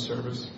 Service.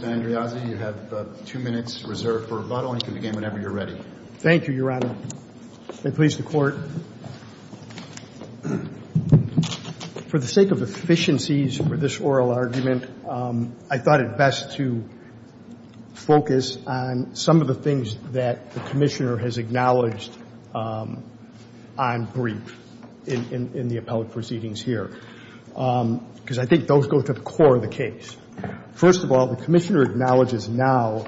Good morning, Mr. Andreazzi. You have two minutes reserved for rebuttal, and you can begin whenever you're ready. Thank you, Your Honor. May it please the Court. For the sake of efficiencies for this oral argument, I thought it best to focus on some of the things that the Commissioner has acknowledged on brief in the appellate proceedings here, because I think those go to the core of the case. First of all, the Commissioner acknowledges now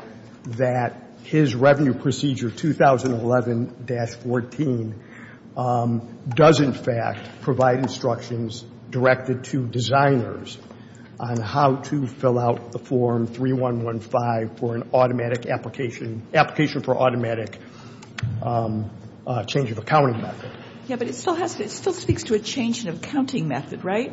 that his revenue procedure 2011-14 does in fact provide instructions directed to designers on how to fill out the Form 3-115 for an automatic application, application for automatic change of accounting method. Yes, but it still has to, it still speaks to a change in accounting method, right?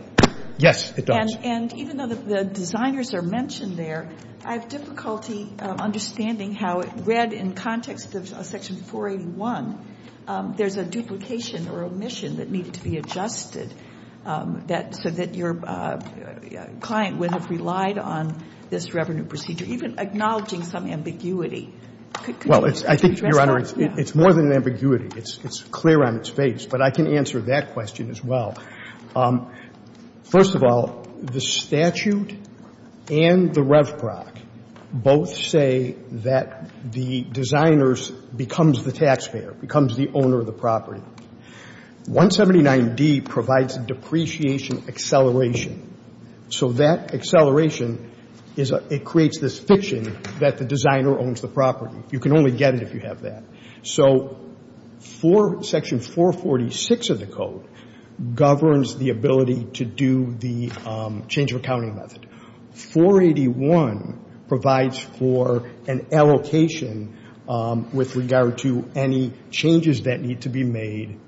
Yes, it does. And even though the designers are mentioned there, I have difficulty understanding how read in context of Section 481, there's a duplication or omission that needed to be adjusted so that your client would have relied on this revenue procedure, even acknowledging some ambiguity. Well, I think, Your Honor, it's more than ambiguity. It's clear on its face. But I can answer that question as well. First of all, the statute and the RevProc both say that the designers becomes the taxpayer, becomes the owner of the property. 179D provides depreciation acceleration. So that acceleration is a, it creates this fiction that the designer owns the property. You can only get it if you have that. So for Section 446 of the code governs the ability to do the change of accounting method. 481 provides for an allocation with regard to any changes that need to be made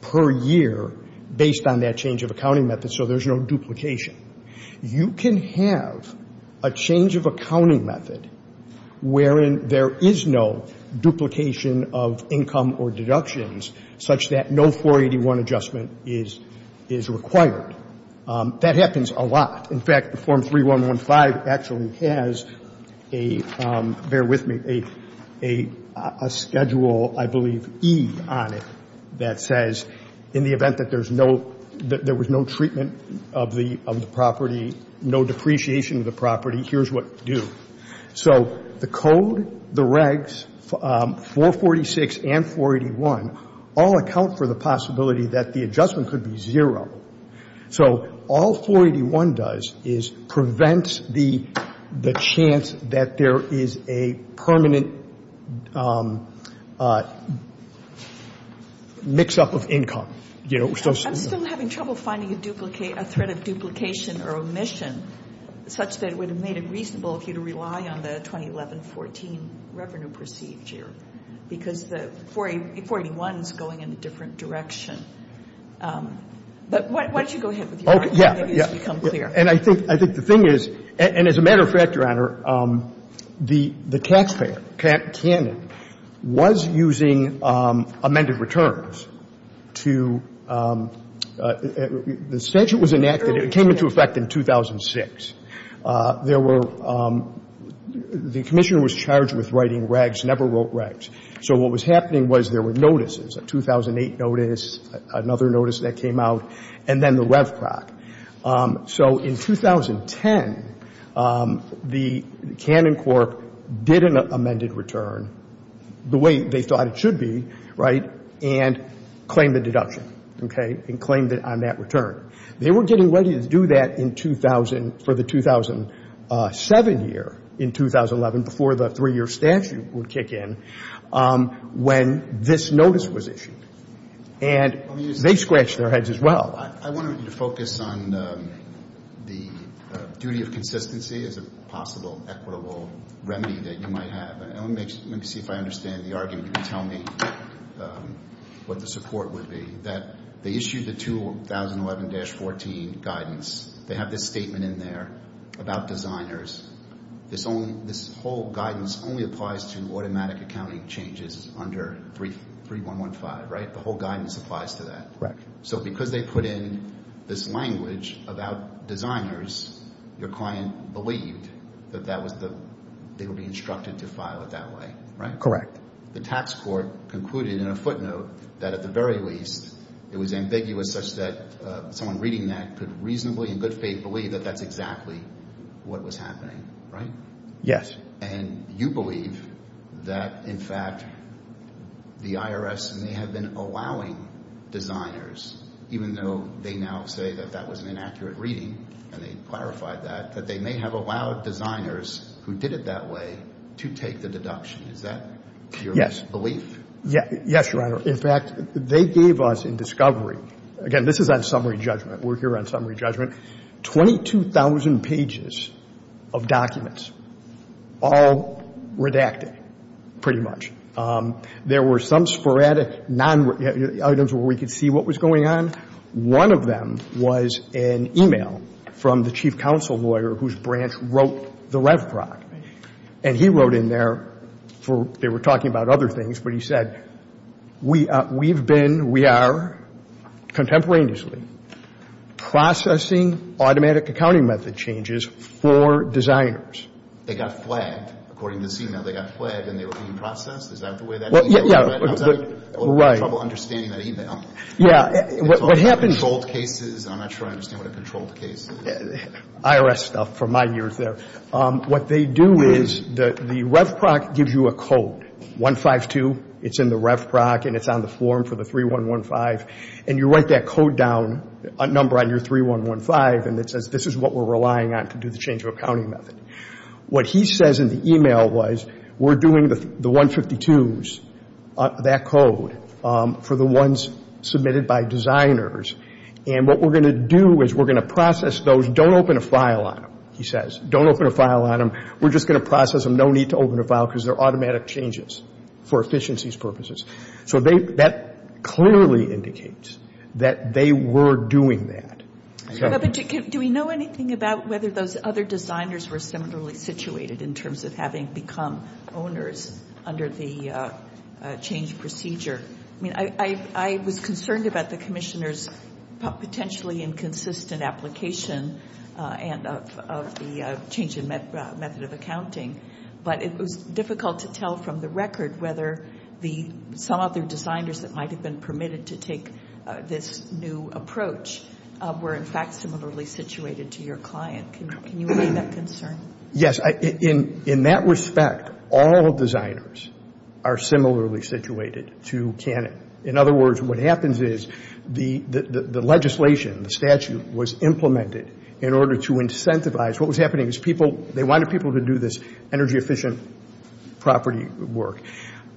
per year based on that change of accounting method. So there's no duplication. You can have a change of accounting method wherein there is no duplication of income or deductions such that no 481 adjustment is required. That happens a lot. In fact, the Form 3115 actually has a, bear with me, a schedule, I believe, E on it that says in the event that there's no, that there was no treatment of the property, no depreciation of the property, here's what to do. So the code, the regs, 446 and 481, all account for the possibility that the adjustment could be zero. So all 481 does is prevents the chance that there is a permanent mix-up of income. I'm still having trouble finding a threat of duplication or omission such that it would have made it reasonable for you to rely on the 2011-14 revenue procedure because the 481 is going in a different direction. But why don't you go ahead with your argument and make this become clear. And I think the thing is, and as a matter of fact, Your Honor, the taxpayer, Cannon, was using amended returns to, the statute was enacted, it came into effect in 2006. There were, the Commissioner was charged with writing regs, never wrote regs. And what was happening was there were notices, a 2008 notice, another notice that came out, and then the RevCroc. So in 2010, the Cannon Corp. did an amended return the way they thought it should be, right, and claimed the deduction, okay, and claimed it on that return. They were getting ready to do that in 2000, for the 2007 year, in 2011, before the three-year statute would kick in, when this notice was issued. And they scratched their heads as well. I wanted you to focus on the duty of consistency as a possible equitable remedy that you might have. And let me see if I understand the argument. Can you tell me what the support would be? That they issued the 2011-14 guidance. They have this language about designers. This whole guidance only applies to automatic accounting changes under 3.115, right? The whole guidance applies to that. So because they put in this language about designers, your client believed that they would be instructed to file it that way, right? Correct. The tax court concluded in a footnote that at the very least, it was ambiguous such that someone reading that could reasonably, in good faith, believe that that's exactly what was happening, right? Yes. And you believe that, in fact, the IRS may have been allowing designers, even though they now say that that was an inaccurate reading, and they clarified that, that they may have allowed designers who did it that way to take the deduction. Is that your belief? Yes. Yes, Your Honor. In fact, they gave us in discovery, again, this is on summary judgment. We're here on summary judgment. Twenty-two thousand pages of documents, all redacted, pretty much. There were some sporadic items where we could see what was going on. One of them was an e-mail from the chief counsel lawyer whose branch wrote the RevProc. And he wrote in there, they were talking about other things, but he said, we've been, we are contemporaneously processing automatic accounting method changes for designers. They got flagged. According to this e-mail, they got flagged and they were being I'm not sure I understand what a controlled case is. IRS stuff from my years there. What they do is the RevProc gives you a code, 152. It's in the RevProc and it's on the form for the 3-1-1-5. And you write that code down, a number on your 3-1-1-5, and it says this is what we're relying on to do the change of accounting method. What he says in the e-mail was, we're doing the 152s, that code, for the ones submitted by designers. And what we're going to do is we're going to process those. Don't open a file on them, he says. Don't open a file on them. We're just going to process them. No need to open a file because they're automatic changes for efficiencies purposes. So that clearly indicates that they were doing that. Do we know anything about whether those other designers were similarly situated in terms of having become owners under the change procedure? I mean, I was concerned about the Commissioner's potentially inconsistent application of the change in method of accounting, but it was difficult to tell from the record whether some other designers that might have been permitted to take this new position were in fact similarly situated to your client. Can you weigh that concern? Yes. In that respect, all designers are similarly situated to Canon. In other words, what happens is the legislation, the statute, was implemented in order to incentivize. What was happening is people, they wanted people to do this energy-efficient property work.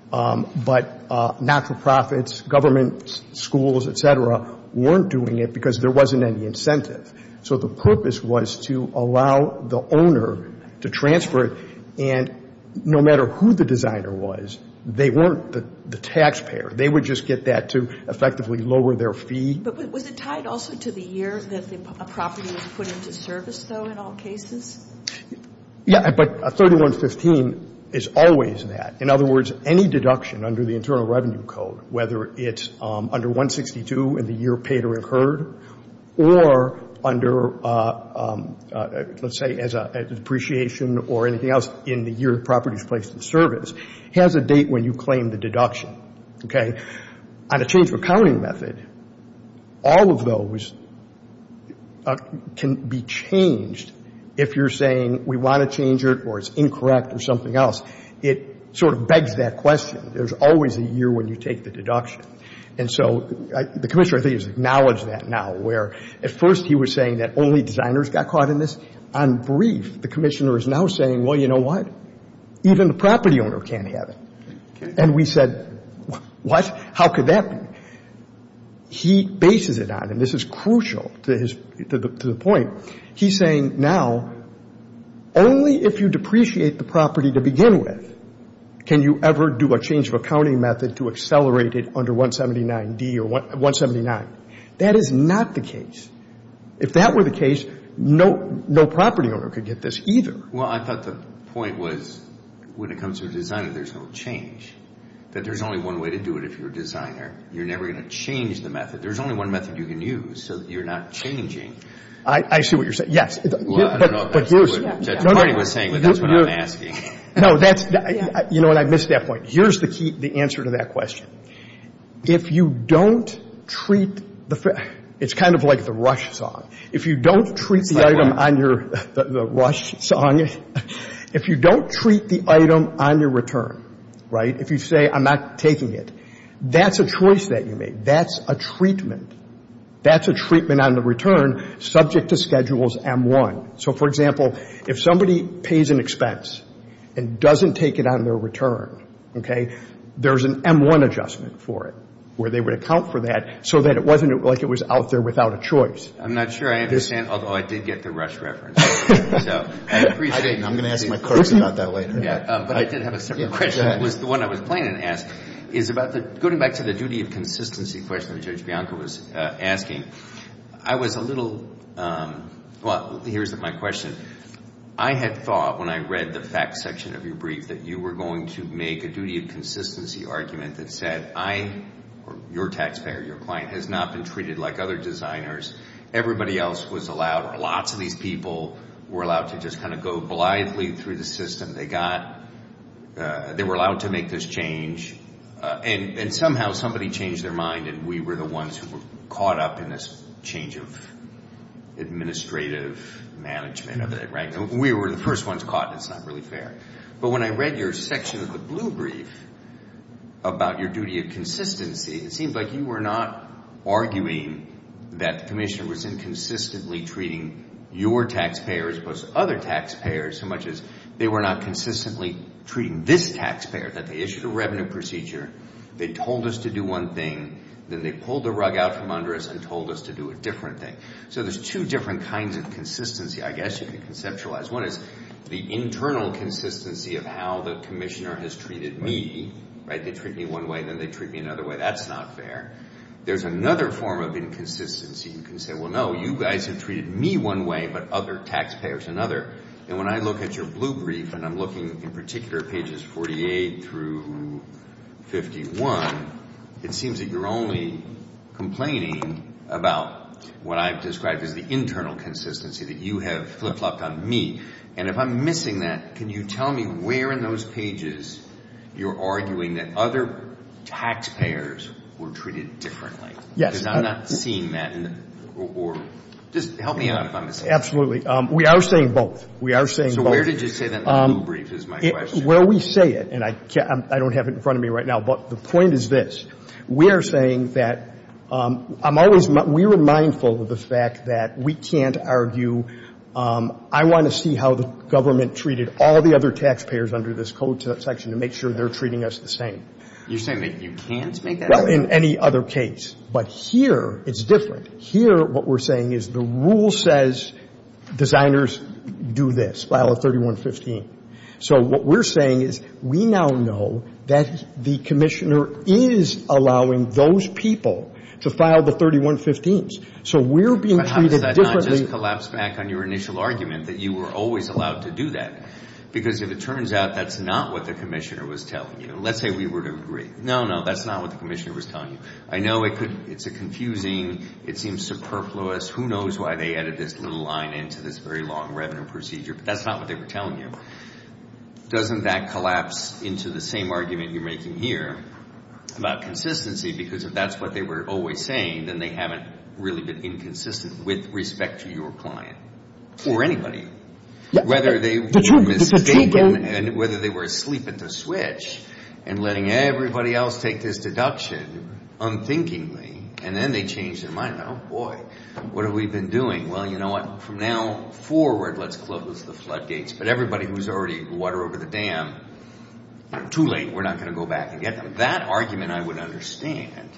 But not-for-profits, government schools, et cetera, weren't doing it because there wasn't any incentive. So the purpose was to allow the owner to transfer it. And no matter who the designer was, they weren't the taxpayer. They would just get that to effectively lower their fee. But was it tied also to the year that a property was put into service, though, in all cases? Yeah. But a 3115 is always that. In other words, any deduction under the Internal Revenue Act of 1962 in the year paid or incurred or under, let's say, as an appreciation or anything else in the year the property is placed in service has a date when you claim the deduction. Okay? On a change of accounting method, all of those can be changed if you're saying we want to change it or it's incorrect or something else. It sort of begs that question. There's always a year when you take the deduction. And so the Commissioner, I think, has acknowledged that now, where at first he was saying that only designers got caught in this. On brief, the Commissioner is now saying, well, you know what, even the property owner can't have it. And we said, what? How could that be? He bases it on, and this is crucial to the point, he's saying now only if you depreciate the property to begin with can you ever do a change of accounting method to accelerate it under 179D or 179. That is not the case. If that were the case, no property owner could get this either. Well, I thought the point was when it comes to a designer, there's no change, that there's only one way to do it if you're a designer. You're never going to change the method. There's only one method you can use so that you're not changing. I see what you're saying. Yes. Well, I don't know if that's what Judge Parney was saying, but that's what I'm asking. No, that's, you know what, I missed that point. Here's the key, the answer to that question. If you don't treat the, it's kind of like the rush song. If you don't treat the item on your, the rush song, if you don't treat the item on your return, right, if you say I'm not taking it, that's a choice that you make. That's a treatment. That's a treatment on the return subject to schedules M-1. So, for example, if somebody pays an expense and doesn't take it on their return, okay, there's an M-1 adjustment for it where they would account for that so that it wasn't like it was out there without a choice. I'm not sure I understand, although I did get the rush reference. So I appreciate it. I'm going to ask my clerk about that later. But I did have a separate question. It was the one I was planning to ask, is about the, going back to the duty of consistency question that Judge Bianco was asking. I was a little, well, here's my question. I had thought when I read the facts section of your brief that you were going to make a duty of consistency argument that said I, or your taxpayer, your client, has not been treated like other designers. Everybody else was allowed, or lots of these people were allowed to just kind of go blithely through the system. They got, they were allowed to make this change. And somehow somebody changed their mind and we were the ones who were caught up in this change of administrative management of it, right? We were the first ones caught, and it's not really fair. But when I read your section of the blue brief about your duty of consistency, it seemed like you were not arguing that the commissioner was inconsistently treating your taxpayer as opposed to other taxpayers so much as they were not consistently treating this taxpayer, that they issued a revenue procedure, they told us to do one thing, then they pulled the rug out from under us and told us to do a different thing. So there's two different kinds of consistency, I guess, you could conceptualize. One is the internal consistency of how the commissioner has treated me, right? They treat me one way, then they treat me another way. That's not fair. There's another form of inconsistency. You can say, well, no, you guys have treated me one way, but other taxpayers another. And when I look at your blue brief, and I'm looking in particular at pages 48 through 51, it seems that you're only complaining about what I've described as the internal consistency, that you have flip-flopped on me. And if I'm missing that, can you tell me where in those pages you're arguing that other taxpayers were treated differently? Because I'm not seeing that in the – or just help me out if I'm missing it. Absolutely. We are saying both. We are saying both. So where did you say that blue brief is my question? Where we say it, and I don't have it in front of me right now, but the point is this. We are saying that I'm always – we were mindful of the fact that we can't argue, I want to see how the government treated all the other taxpayers under this code section. To make sure they're treating us the same. You're saying that you can't make that argument? Well, in any other case. But here, it's different. Here, what we're saying is the rule says designers do this, file a 3115. So what we're saying is we now know that the commissioner is allowing those people to file the 3115s. So we're being treated differently. But how does that not just collapse back on your initial argument that you were always allowed to do that? Because if it turns out that's not what the commissioner was telling you. Let's say we were to agree. No, no, that's not what the commissioner was telling you. I know it could – it's confusing. It seems superfluous. Who knows why they added this little line into this very long revenue procedure. But that's not what they were telling you. Doesn't that collapse into the same argument you're making here about consistency? Because if that's what they were always saying, then they haven't really been inconsistent with respect to your client or anybody. Whether they were mistaken and whether they were asleep at the switch and letting everybody else take this deduction unthinkingly. And then they changed their mind. Oh, boy. What have we been doing? Well, you know what? From now forward, let's close the floodgates. But everybody who's already water over the dam, too late. We're not going to go back and get them. That argument I would understand.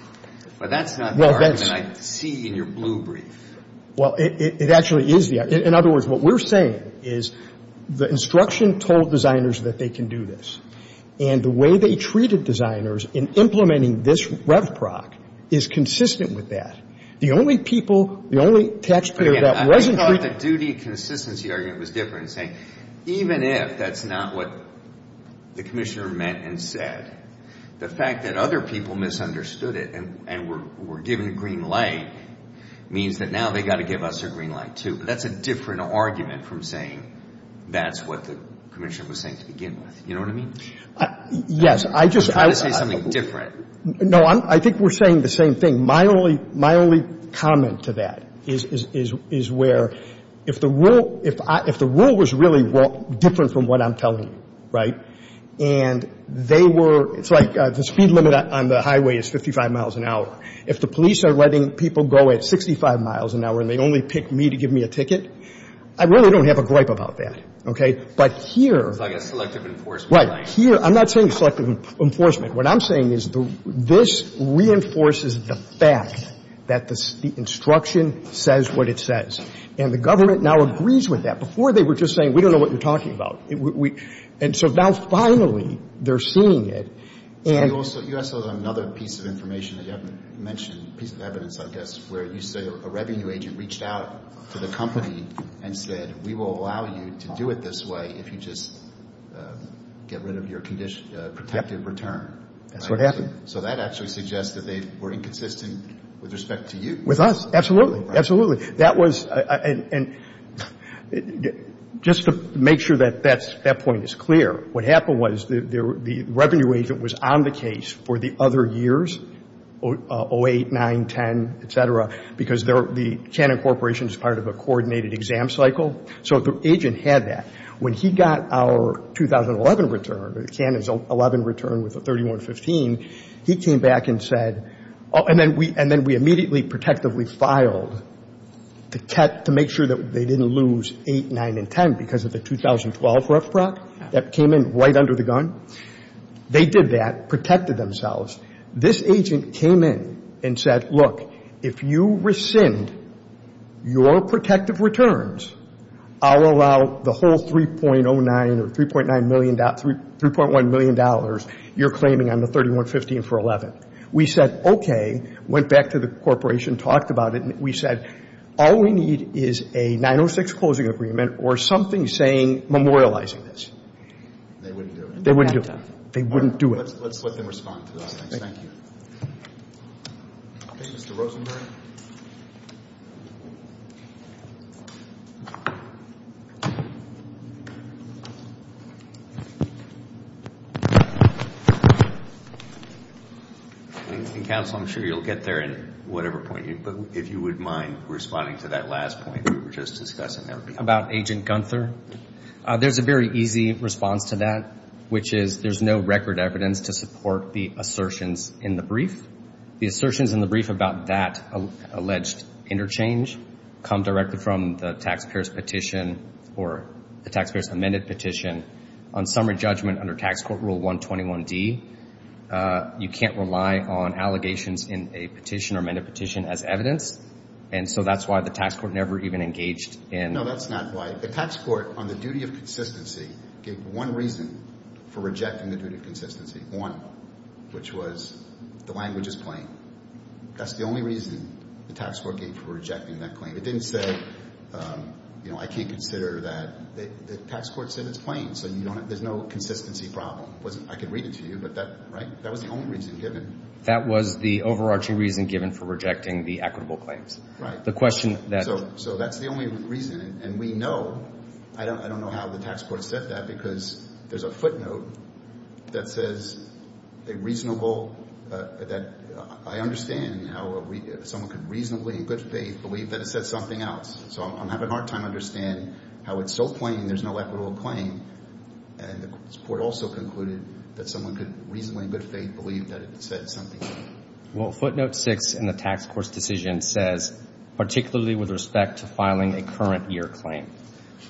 But that's not the argument I see in your blue brief. Well, it actually is. In other words, what we're saying is the instruction told designers that they can do this. And the way they treated designers in implementing this rev proc is consistent with that. The only people, the only taxpayer that wasn't – I thought the duty consistency argument was different. Even if that's not what the commissioner meant and said, the fact that other people misunderstood it and were given a green light means that now they've got to give us a green light, too. But that's a different argument from saying that's what the commissioner was saying to begin with. You know what I mean? Yes. I just – You're trying to say something different. No, I think we're saying the same thing. My only comment to that is where if the rule was really different from what I'm telling you, right, and they were – it's like the speed limit on the highway is 55 miles an hour. If the police are letting people go at 65 miles an hour and they only pick me to give me a ticket, I really don't have a gripe about that. Okay? But here – It's like a selective enforcement. Right. Here – I'm not saying selective enforcement. What I'm saying is this reinforces the fact that the instruction says what it says. And the government now agrees with that. Before, they were just saying, we don't know what you're talking about. And so now, finally, they're seeing it. So you also – you also have another piece of information that you haven't mentioned, piece of evidence, I guess, where you say a revenue agent reached out to the company and said, we will allow you to do it this way if you just get rid of your protective return. That's what happened. So that actually suggests that they were inconsistent with respect to you. With us. Absolutely. Absolutely. That was – and just to make sure that that's – that point is clear, what happened was the revenue agent was on the case for the other years, 08, 09, 10, et cetera, because the Cannon Corporation is part of a coordinated exam cycle. So the agent had that. When he got our 2011 return, Cannon's 11 return with the 3115, he came back and said, and then we immediately protectively filed to make sure that they didn't lose 08, 09, and 10 because of the 2012 rough proc that came in right under the gun. They did that, protected themselves. This agent came in and said, look, if you rescind your protective returns, I'll allow the whole 3.09 or 3.9 million – $3.1 million you're claiming on the 3115 for 11. We said, okay, went back to the corporation, talked about it, and we said, all we need is a 906 closing agreement or something saying memorializing this. They wouldn't do it. They wouldn't do it. They wouldn't do it. Let's let them respond to that. Thank you. Okay. Mr. Rosenberg. Counsel, I'm sure you'll get there in whatever point, but if you wouldn't mind responding to that last point we were just discussing. About Agent Gunther, there's a very easy response to that, which is there's no record evidence to support the assertions in the brief. The assertions in the brief about that alleged interchange come directly from the taxpayers' petition or the taxpayers' amended petition on summary judgment under Tax Court Rule 121D. You can't rely on allegations in a petition or amended petition as evidence, and so that's why the tax court never even engaged in – No, that's not why. The tax court, on the duty of consistency, gave one reason for rejecting the duty of consistency, one, which was the language is plain. That's the only reason the tax court gave for rejecting that claim. It didn't say, you know, I can't consider that. The tax court said it's plain, so there's no consistency problem. I could read it to you, but that was the only reason given. That was the overarching reason given for rejecting the equitable claims. Right. So that's the only reason, and we know – I don't know how the tax court said that because there's a footnote that says a reasonable – that I understand how someone could reasonably, in good faith, believe that it said something else. So I'm having a hard time understanding how it's so plain there's no equitable claim, and the court also concluded that someone could reasonably, in good faith, believe that it said something else. Well, footnote 6 in the tax court's decision says, particularly with respect to filing a current year claim,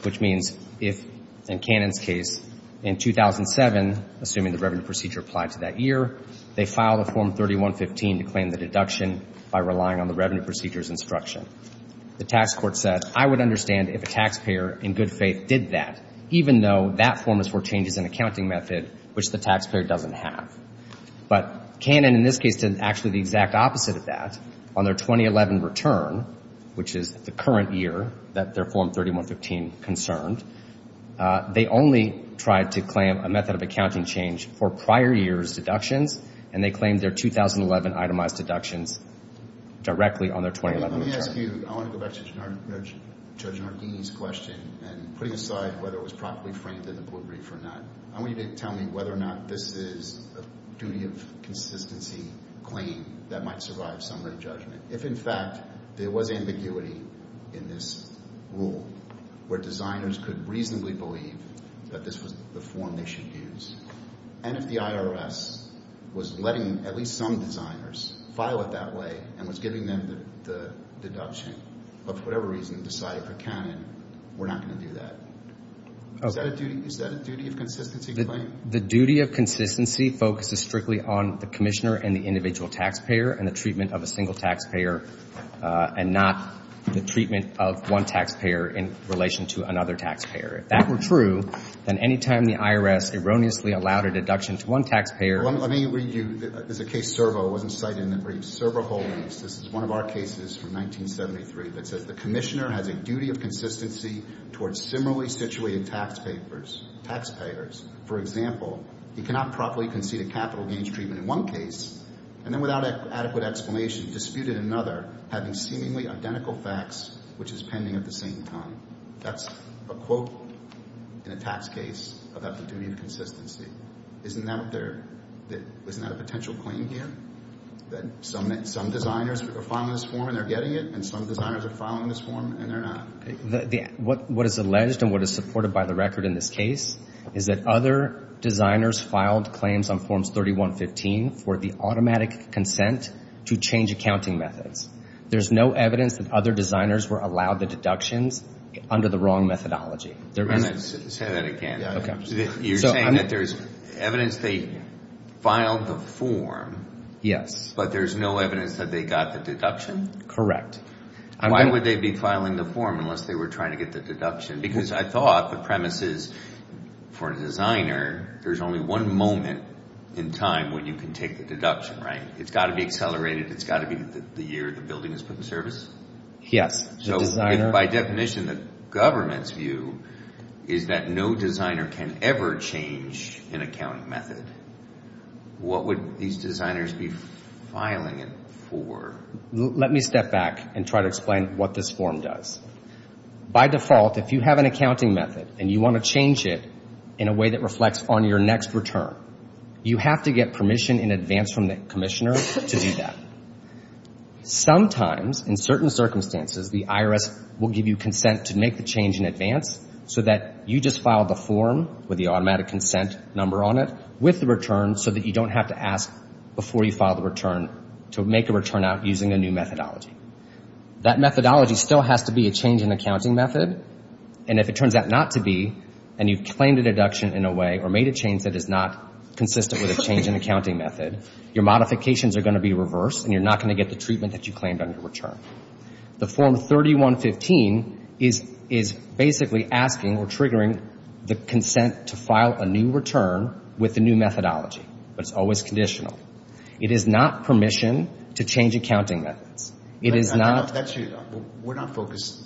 which means if, in Cannon's case, in 2007, assuming the revenue procedure applied to that year, they filed a Form 3115 to claim the deduction by relying on the revenue procedure's instruction. The tax court said, I would understand if a taxpayer, in good faith, did that, even though that form is for changes in accounting method, which the taxpayer doesn't have. But Cannon, in this case, did actually the exact opposite of that. On their 2011 return, which is the current year that their Form 3115 is being concerned, they only tried to claim a method of accounting change for prior years' deductions, and they claimed their 2011 itemized deductions directly on their 2011 return. Let me ask you – I want to go back to Judge Narghini's question and putting aside whether it was properly framed in the blue brief or not. I want you to tell me whether or not this is a duty of consistency claim that might survive summary judgment. If, in fact, there was ambiguity in this rule, where designers could reasonably believe that this was the form they should use, and if the IRS was letting at least some designers file it that way and was giving them the deduction, but for whatever reason, decided for Cannon, we're not going to do that. Is that a duty of consistency claim? The duty of consistency focuses strictly on the commissioner and the individual taxpayer and the treatment of a single taxpayer, and not the treatment of one taxpayer in relation to another taxpayer. If that were true, then any time the IRS erroneously allowed a deduction to one taxpayer – Well, let me read you – there's a case, Servo. It wasn't cited in the brief. Servo Holdings. This is one of our cases from 1973 that says the commissioner has a duty of consistency towards similarly situated taxpayers. For example, he cannot properly concede a capital gains treatment in one case and then, without adequate explanation, dispute it in another, having seemingly identical facts, which is pending at the same time. That's a quote in a tax case about the duty of consistency. Isn't that a potential claim here, that some designers are filing this form and they're getting it, and some designers are filing this form and they're not? What is alleged and what is supported by the record in this case is that other designers filed claims on Forms 3115 for the automatic consent to change accounting methods. There's no evidence that other designers were allowed the deductions under the wrong methodology. Let me say that again. You're saying that there's evidence they filed the form, but there's no evidence that they got the deduction? Correct. Why would they be filing the form unless they were trying to get the deduction? Because I thought the premise is, for a designer, there's only one moment in time when you can take the deduction. It's got to be accelerated. It's got to be the year the building is put in service. By definition, the government's view is that no designer can ever change an accounting method. What would these designers be filing it for? Let me step back and try to explain what this form does. By default, if you have an accounting method and you want to change it in a way that reflects on your next return, you have to get permission in advance from the commissioner to do that. Sometimes, in certain circumstances, the IRS will give you consent to make the change in advance so that you just file the form with the automatic consent number on it with the return so that you don't have to ask before you file the return to make a return out using a new methodology. That methodology still has to be a change in accounting method, and if it turns out not to be, and you've claimed a deduction in a way or made a change that is not consistent with a change in accounting method, your modifications are going to be reversed and you're not going to get the treatment that you claimed on your return. The Form 3115 is basically asking or triggering the consent to file a new return with a new methodology, but it's always conditional. It is not permission to change accounting methods. We're not focused.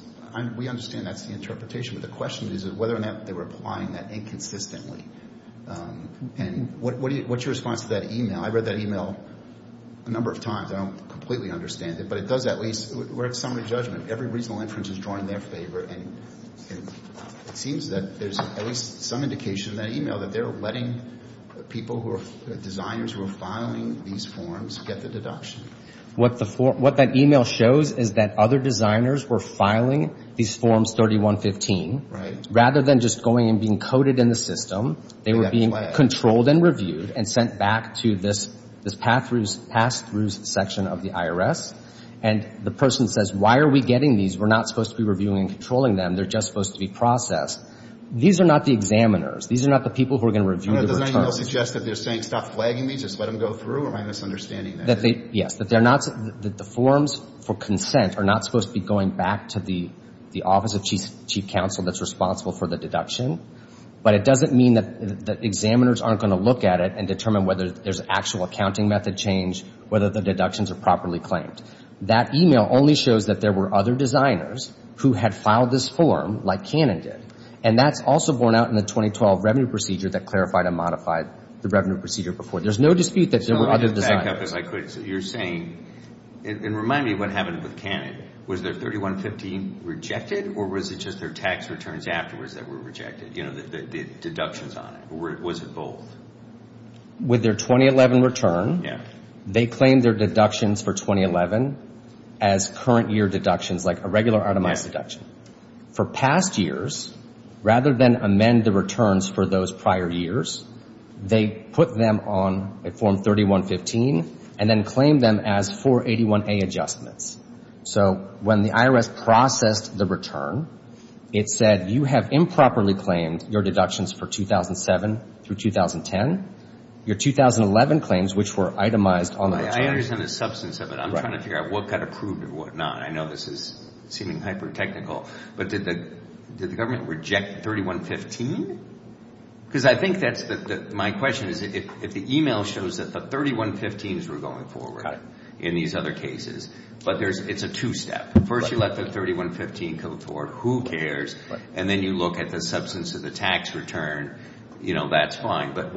We understand that's the interpretation, but the question is whether or not they were applying that inconsistently. What's your response to that e-mail? I've read that e-mail a number of times. I don't completely understand it, but it does at least, we're at summary judgment. Every reasonable inference is drawing their favor, and it seems that there's at least some indication in that e-mail that they're letting people who are designers who are filing these forms get the deduction. What that e-mail shows is that other designers were filing these Forms 3115 rather than just going and being coded in the system. They were being controlled and reviewed and sent back to this pass-through section of the IRS, and the person says, why are we getting these? We're not supposed to be reviewing and controlling them. They're just supposed to be processed. These are not the examiners. These are not the people who are going to review the returns. Does that e-mail suggest that they're saying, stop flagging me, just let them go through, or am I misunderstanding that? That they, yes, that they're not, that the forms for consent are not supposed to be going back to the Office of Chief Counsel that's responsible for the deduction, but it doesn't mean that the examiners aren't going to look at it and determine whether there's actual accounting method change, whether the deductions are properly claimed. That e-mail only shows that there were other designers who had filed this form, like Cannon did, and that's also borne out in the 2012 Revenue Procedure that clarified and modified the Revenue Procedure before. There's no dispute that there were other designers. And remind me of what happened with Cannon. Was their 3115 rejected, or was it just their tax returns afterwards that were rejected, the deductions on it, or was it both? With their 2011 return, they claimed their deductions for 2011 as current year deductions, like a regular automized deduction. For past years, rather than amend the returns for those prior years, they put them on a form 3115 and then claimed them as 481A adjustments. So when the IRS processed the return, it said you have improperly claimed your deductions for 2007 through 2010, your 2011 claims, which were itemized on the return. I understand the substance of it. I'm trying to figure out what got approved and what not. I know this is seeming hyper-technical, but did the government reject 3115? My question is, if the e-mail shows that the 3115s were going forward in these other cases, but it's a two-step. First you let the 3115 come forward, who cares, and then you look at the substance of the tax return, that's fine. But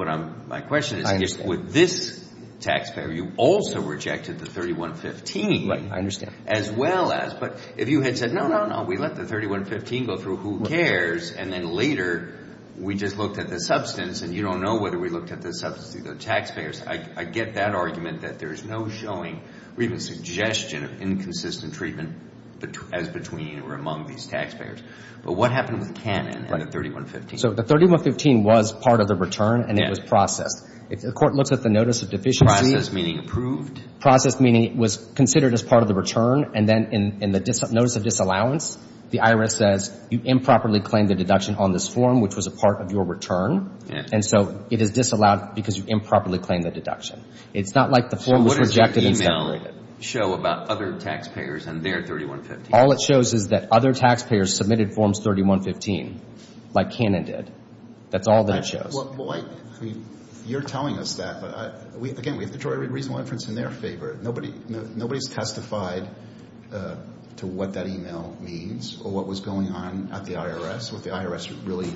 my question is, with this taxpayer, you also rejected the 3115. Right, I understand. But if you had said, no, no, no, we let the 3115 go through, who cares, and then later we just looked at the substance, and you don't know whether we looked at the substance through the taxpayers, I get that argument that there's no showing or even suggestion of inconsistent treatment as between or among these taxpayers. But what happened with Cannon and the 3115? So the 3115 was part of the return, and it was processed. The court looks at the notice of deficiency. Processed meaning approved? Processed meaning it was considered as part of the return, and then in the notice of disallowance, the IRS says you improperly claimed a deduction on this form, which was a part of your return. And so it is disallowed because you improperly claimed the deduction. It's not like the form was rejected and separated. So what does your e-mail show about other taxpayers and their 3115? All it shows is that other taxpayers submitted forms 3115, like Cannon did. That's all that it shows. Well, you're telling us that, but, again, we have to draw a reasonable inference in their favor. Nobody has testified to what that e-mail means or what was going on at the IRS, what the IRS really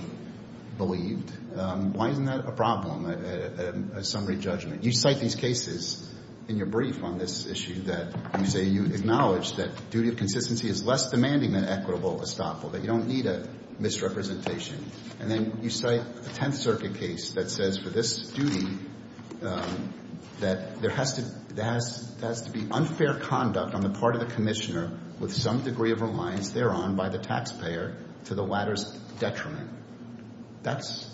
believed. Why isn't that a problem, a summary judgment? You cite these cases in your brief on this issue that you say you acknowledge that duty of consistency is less demanding than equitable estoppel, that you don't need a misrepresentation. And then you cite the Tenth Circuit case that says for this duty that there has to be unfair conduct on the part of the Commissioner with some degree of reliance thereon by the taxpayer to the latter's detriment. That's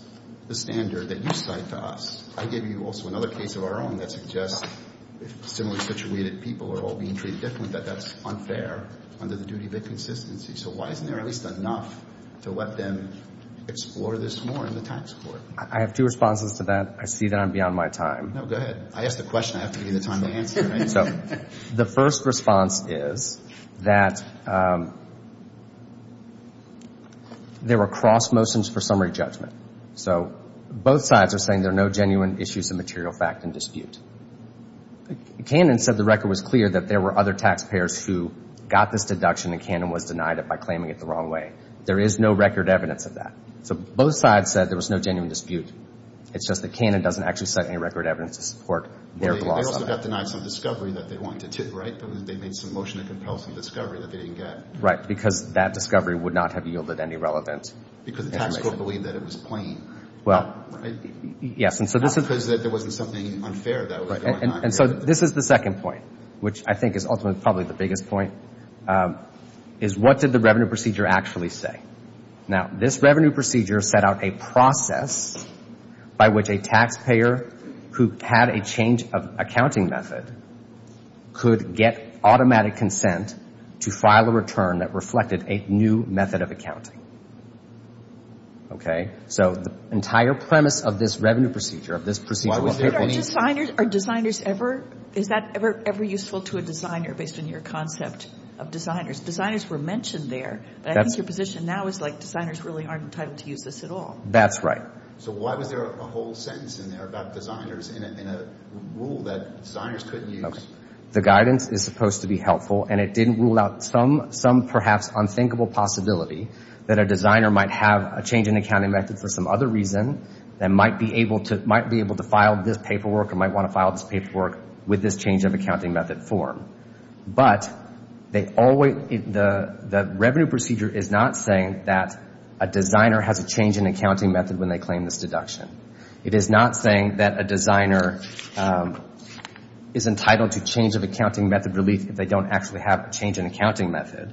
the standard that you cite to us. I give you also another case of our own that suggests if similarly situated people are all being treated differently, that that's unfair under the duty of inconsistency. So why isn't there at least enough to let them explore this more in the tax court? I have two responses to that. I see that I'm beyond my time. No, go ahead. I asked the question. I have to give you the time to answer it. So the first response is that there were cross motions for summary judgment. So both sides are saying there are no genuine issues of material fact in dispute. Cannon said the record was clear that there were other taxpayers who got this deduction and Cannon was denied it by claiming it the wrong way. There is no record evidence of that. So both sides said there was no genuine dispute. It's just that Cannon doesn't actually cite any record evidence to support their gloss of it. They also got denied some discovery that they wanted to tip, right? They made some motion to compel some discovery that they didn't get. Right, because that discovery would not have yielded any relevance. Because the tax court believed that it was plain. Well, yes. Because there wasn't something unfair that was going on. And so this is the second point, which I think is ultimately probably the biggest point, is what did the revenue procedure actually say? Now, this revenue procedure set out a process by which a taxpayer who had a change of accounting method could get automatic consent to file a return that reflected a new method of accounting. Okay? So the entire premise of this revenue procedure, of this procedure, was that any— Are designers ever—is that ever useful to a designer based on your concept of designers? Designers were mentioned there, but I think your position now is like designers really aren't entitled to use this at all. That's right. So why was there a whole sentence in there about designers in a rule that designers couldn't use? Okay. The guidance is supposed to be helpful, and it didn't rule out some perhaps unthinkable possibility that a designer might have a change in accounting method for some other reason that might be able to file this paperwork or might want to file this paperwork with this change of accounting method form. But the revenue procedure is not saying that a designer has a change in accounting method when they claim this deduction. It is not saying that a designer is entitled to change of accounting method relief if they don't actually have a change in accounting method.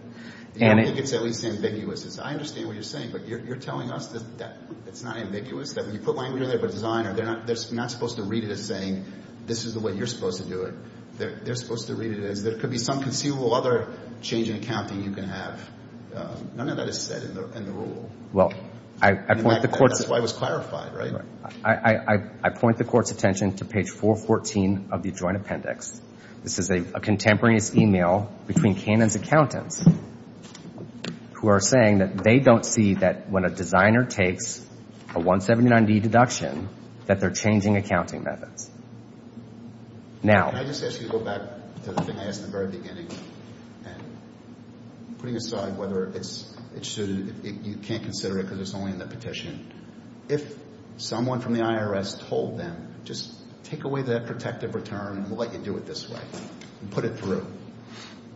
I think it's at least ambiguous. I understand what you're saying, but you're telling us that it's not ambiguous, that when you put language in there about a designer, they're not supposed to read it as saying, this is the way you're supposed to do it. They're supposed to read it as there could be some conceivable other change in accounting you can have. None of that is said in the rule. Well, I point the court's— That's why it was clarified, right? I point the court's attention to page 414 of the Joint Appendix. This is a contemporaneous email between Cannon's accountants who are saying that they don't see that when a designer takes a 179D deduction that they're changing accounting methods. Now— Can I just ask you to go back to the thing I asked in the very beginning and putting aside whether it's—you can't consider it because it's only in the petition. If someone from the IRS told them, just take away that protective return and we'll let you do it this way and put it through,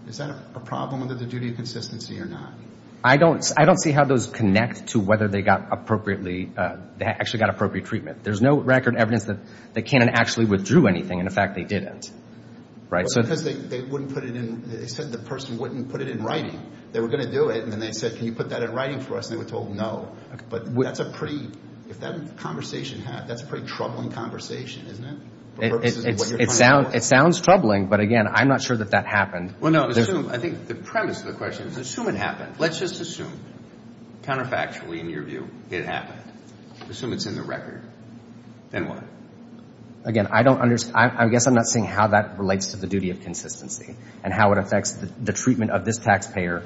is that a problem under the duty of consistency or not? I don't see how those connect to whether they got appropriately—they actually got appropriate treatment. There's no record evidence that Cannon actually withdrew anything. In fact, they didn't. Because they wouldn't put it in—they said the person wouldn't put it in writing. They were going to do it, and then they said, can you put that in writing for us? And they were told no. But that's a pretty—if that conversation happened, that's a pretty troubling conversation, isn't it? It sounds troubling, but again, I'm not sure that that happened. Well, no. I think the premise of the question is assume it happened. Let's just assume, counterfactually in your view, it happened. Assume it's in the record. Then what? Again, I don't understand. I guess I'm not seeing how that relates to the duty of consistency and how it affects the treatment of this taxpayer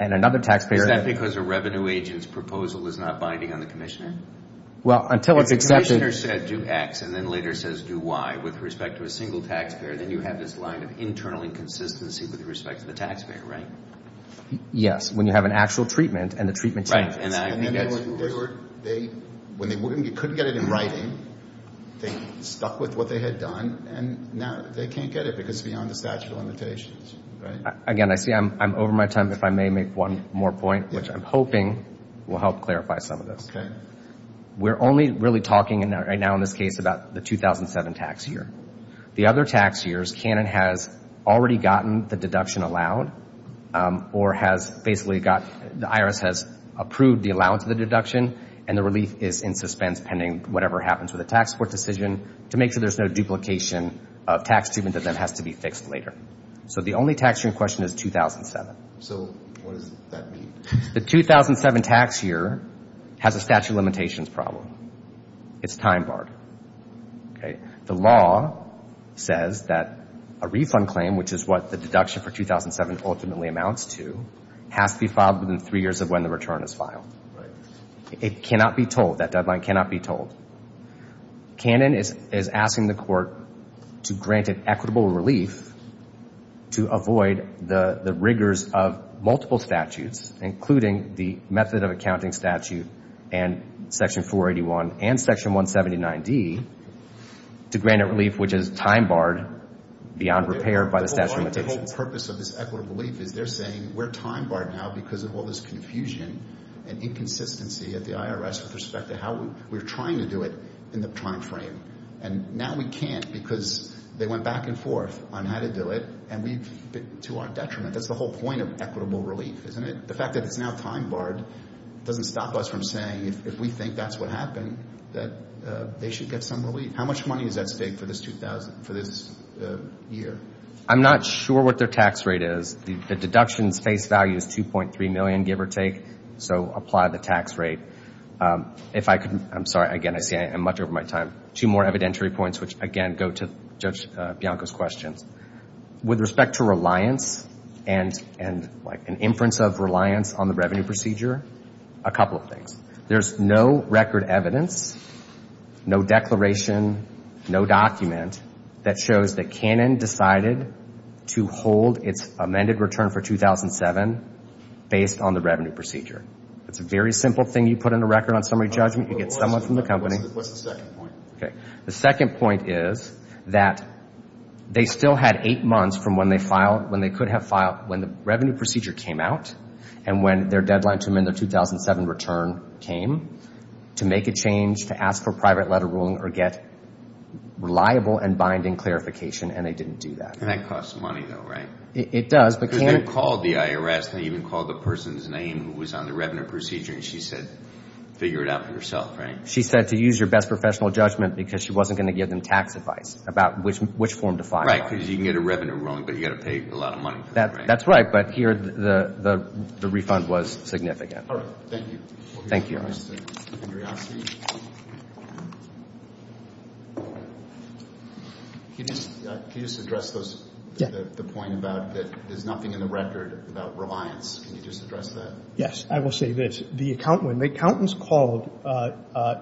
and another taxpayer. Is that because a revenue agent's proposal is not binding on the commissioner? Well, until it's accepted— If the commissioner said do X and then later says do Y with respect to a single taxpayer, then you have this line of internal inconsistency with respect to the taxpayer, right? Yes, when you have an actual treatment and the treatment changes. Right. And I think that's— When they couldn't get it in writing, they stuck with what they had done, and now they can't get it because it's beyond the statute of limitations, right? Again, I see I'm over my time. If I may make one more point, which I'm hoping will help clarify some of this. We're only really talking right now in this case about the 2007 tax year. The other tax years, Canon has already gotten the deduction allowed or has basically got—the IRS has approved the allowance of the deduction, and the relief is in suspense pending whatever happens with a tax court decision to make sure there's no duplication of tax treatment that then has to be fixed later. So the only tax year in question is 2007. So what does that mean? The 2007 tax year has a statute of limitations problem. It's time barred. The law says that a refund claim, which is what the deduction for 2007 ultimately amounts to, has to be filed within three years of when the return is filed. Right. It cannot be told. That deadline cannot be told. Canon is asking the court to grant it equitable relief to avoid the rigors of multiple statutes, including the method of accounting statute and Section 481 and Section 179D, to grant it relief which is time barred beyond repair by the statute of limitations. The whole purpose of this equitable relief is they're saying we're time barred now because of all this confusion and inconsistency at the IRS with respect to how we're trying to do it in the time frame. And now we can't because they went back and forth on how to do it to our detriment. That's the whole point of equitable relief, isn't it? The fact that it's now time barred doesn't stop us from saying if we think that's what happened, that they should get some relief. How much money is at stake for this year? I'm not sure what their tax rate is. The deduction's face value is $2.3 million, give or take, so apply the tax rate. I'm sorry, again, I'm much over my time. Two more evidentiary points which, again, go to Judge Bianco's questions. With respect to reliance and an inference of reliance on the revenue procedure, a couple of things. There's no record evidence, no declaration, no document, that shows that Cannon decided to hold its amended return for 2007 based on the revenue procedure. It's a very simple thing. You put in a record on summary judgment. You get someone from the company. What's the second point? The second point is that they still had eight months from when they could have filed, when the revenue procedure came out and when their deadline to amend their 2007 return came, to make a change, to ask for a private letter ruling or get reliable and binding clarification, and they didn't do that. And that costs money, though, right? It does. Because they called the IRS. They even called the person's name who was on the revenue procedure, and she said figure it out for yourself, right? She said to use your best professional judgment because she wasn't going to give them tax advice about which form to file. Right, because you can get a revenue ruling, but you've got to pay a lot of money for it, right? That's right, but here the refund was significant. All right. Thank you. Thank you. Mr. Andriosky? Can you just address the point about that there's nothing in the record about reliance? Can you just address that? Yes. I will say this. The accountants called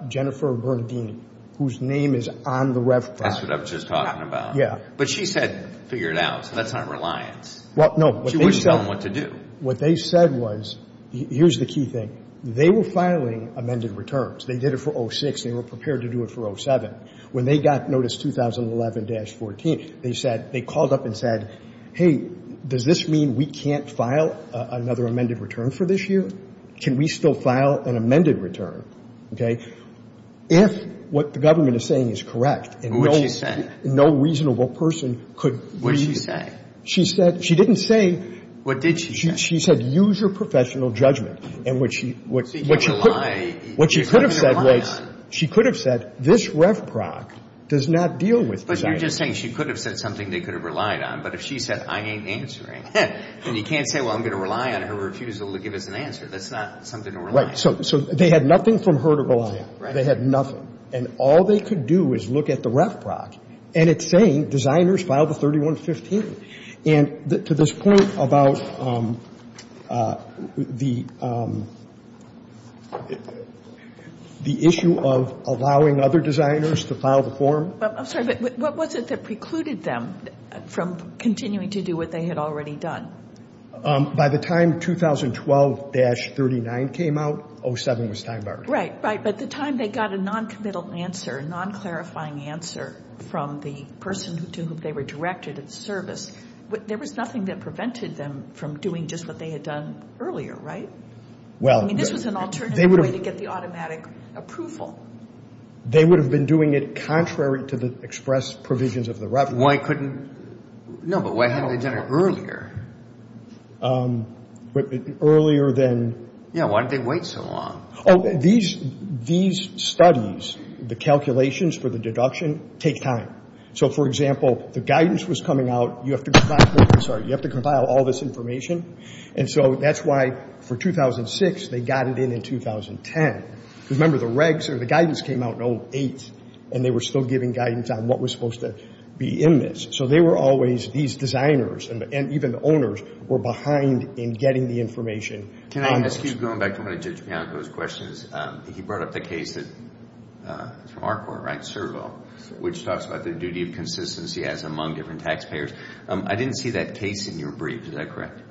Jennifer Bernadine, whose name is on the refund. That's what I was just talking about. Yeah. But she said figure it out, so that's not reliance. Well, no. She was telling them what to do. What they said was, here's the key thing. They were filing amended returns. They did it for 06. They were prepared to do it for 07. When they got notice 2011-14, they said, they called up and said, hey, does this mean we can't file another amended return for this year? Can we still file an amended return, okay, if what the government is saying is correct? What did she say? No reasonable person could. What did she say? She said, she didn't say. What did she say? She said, use your professional judgment. And what she could have said was, she could have said, this REF PROC does not deal with designers. But you're just saying she could have said something they could have relied on. But if she said, I ain't answering, then you can't say, well, I'm going to rely on her refusal to give us an answer. That's not something to rely on. Right. So they had nothing from her to rely on. Right. They had nothing. And all they could do is look at the REF PROC, and it's saying designers filed a 31-15. And to this point about the issue of allowing other designers to file the form. I'm sorry, but what was it that precluded them from continuing to do what they had already done? By the time 2012-39 came out, 07 was time barred. Right, right. At the time they got a non-committal answer, a non-clarifying answer from the person to whom they were directed at service. There was nothing that prevented them from doing just what they had done earlier, right? I mean, this was an alternative way to get the automatic approval. They would have been doing it contrary to the express provisions of the REF PROC. Why couldn't – no, but why hadn't they done it earlier? Earlier than – Yeah, why did they wait so long? Oh, these studies, the calculations for the deduction, take time. So, for example, the guidance was coming out. You have to – I'm sorry. You have to compile all this information. And so that's why for 2006 they got it in in 2010. Remember, the regs or the guidance came out in 08, and they were still giving guidance on what was supposed to be in this. So they were always – these designers and even the owners were behind in getting the information. Can I ask you, going back to one of Judge Bianco's questions, he brought up the case that – it's from our court, right, Servo, which talks about the duty of consistency as among different taxpayers. I didn't see that case in your brief. Is that correct?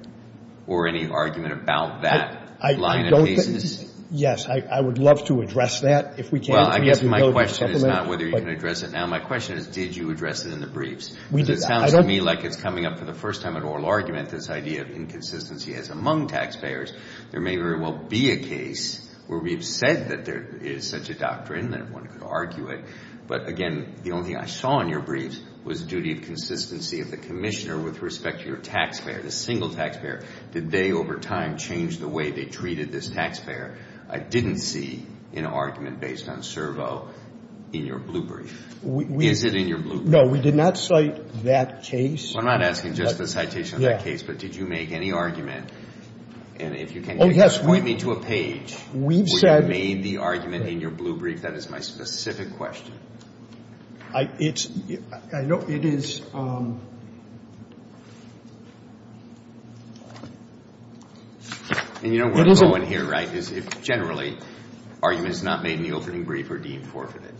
Or any argument about that line of cases? I don't – yes. I would love to address that if we can. Well, I guess my question is not whether you can address it now. My question is did you address it in the briefs? Because it sounds to me like it's coming up for the first time in oral argument, this idea of inconsistency as among taxpayers. There may very well be a case where we've said that there is such a doctrine that one could argue it. But, again, the only thing I saw in your briefs was the duty of consistency of the commissioner with respect to your taxpayer, the single taxpayer. Did they over time change the way they treated this taxpayer? I didn't see an argument based on Servo in your blue brief. Is it in your blue brief? No, we did not cite that case. Well, I'm not asking just the citation of that case, but did you make any argument? And if you can just point me to a page where you made the argument in your blue brief, that is my specific question. I – it's – I know it is. And you don't want to go in here, right, because generally arguments not made in the opening brief are deemed forfeited.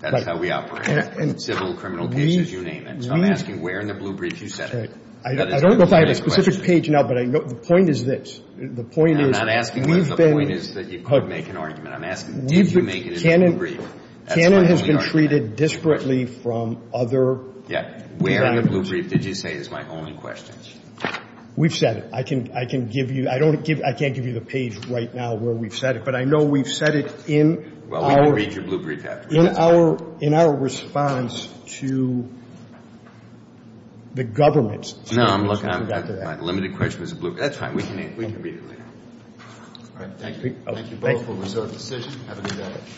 That's how we operate in civil and criminal cases, you name it. So I'm asking where in the blue brief you set it. I don't know if I have a specific page now, but the point is this. The point is we've been – I'm not asking where the point is that you could make an argument. I'm asking did you make it in the blue brief? That's my only argument. Canon has been treated disparately from other – Yeah. Where in the blue brief did you say is my only question? We've said it. I can give you – I don't give – I can't give you the page right now where we've said it. But I know we've said it in our – Well, we can read your blue brief afterwards. In our – in our response to the government's – No, I'm looking – my limited question was the blue – that's fine. We can read it later. All right. Thank you. Thank you both for a resorted decision. Have a good day.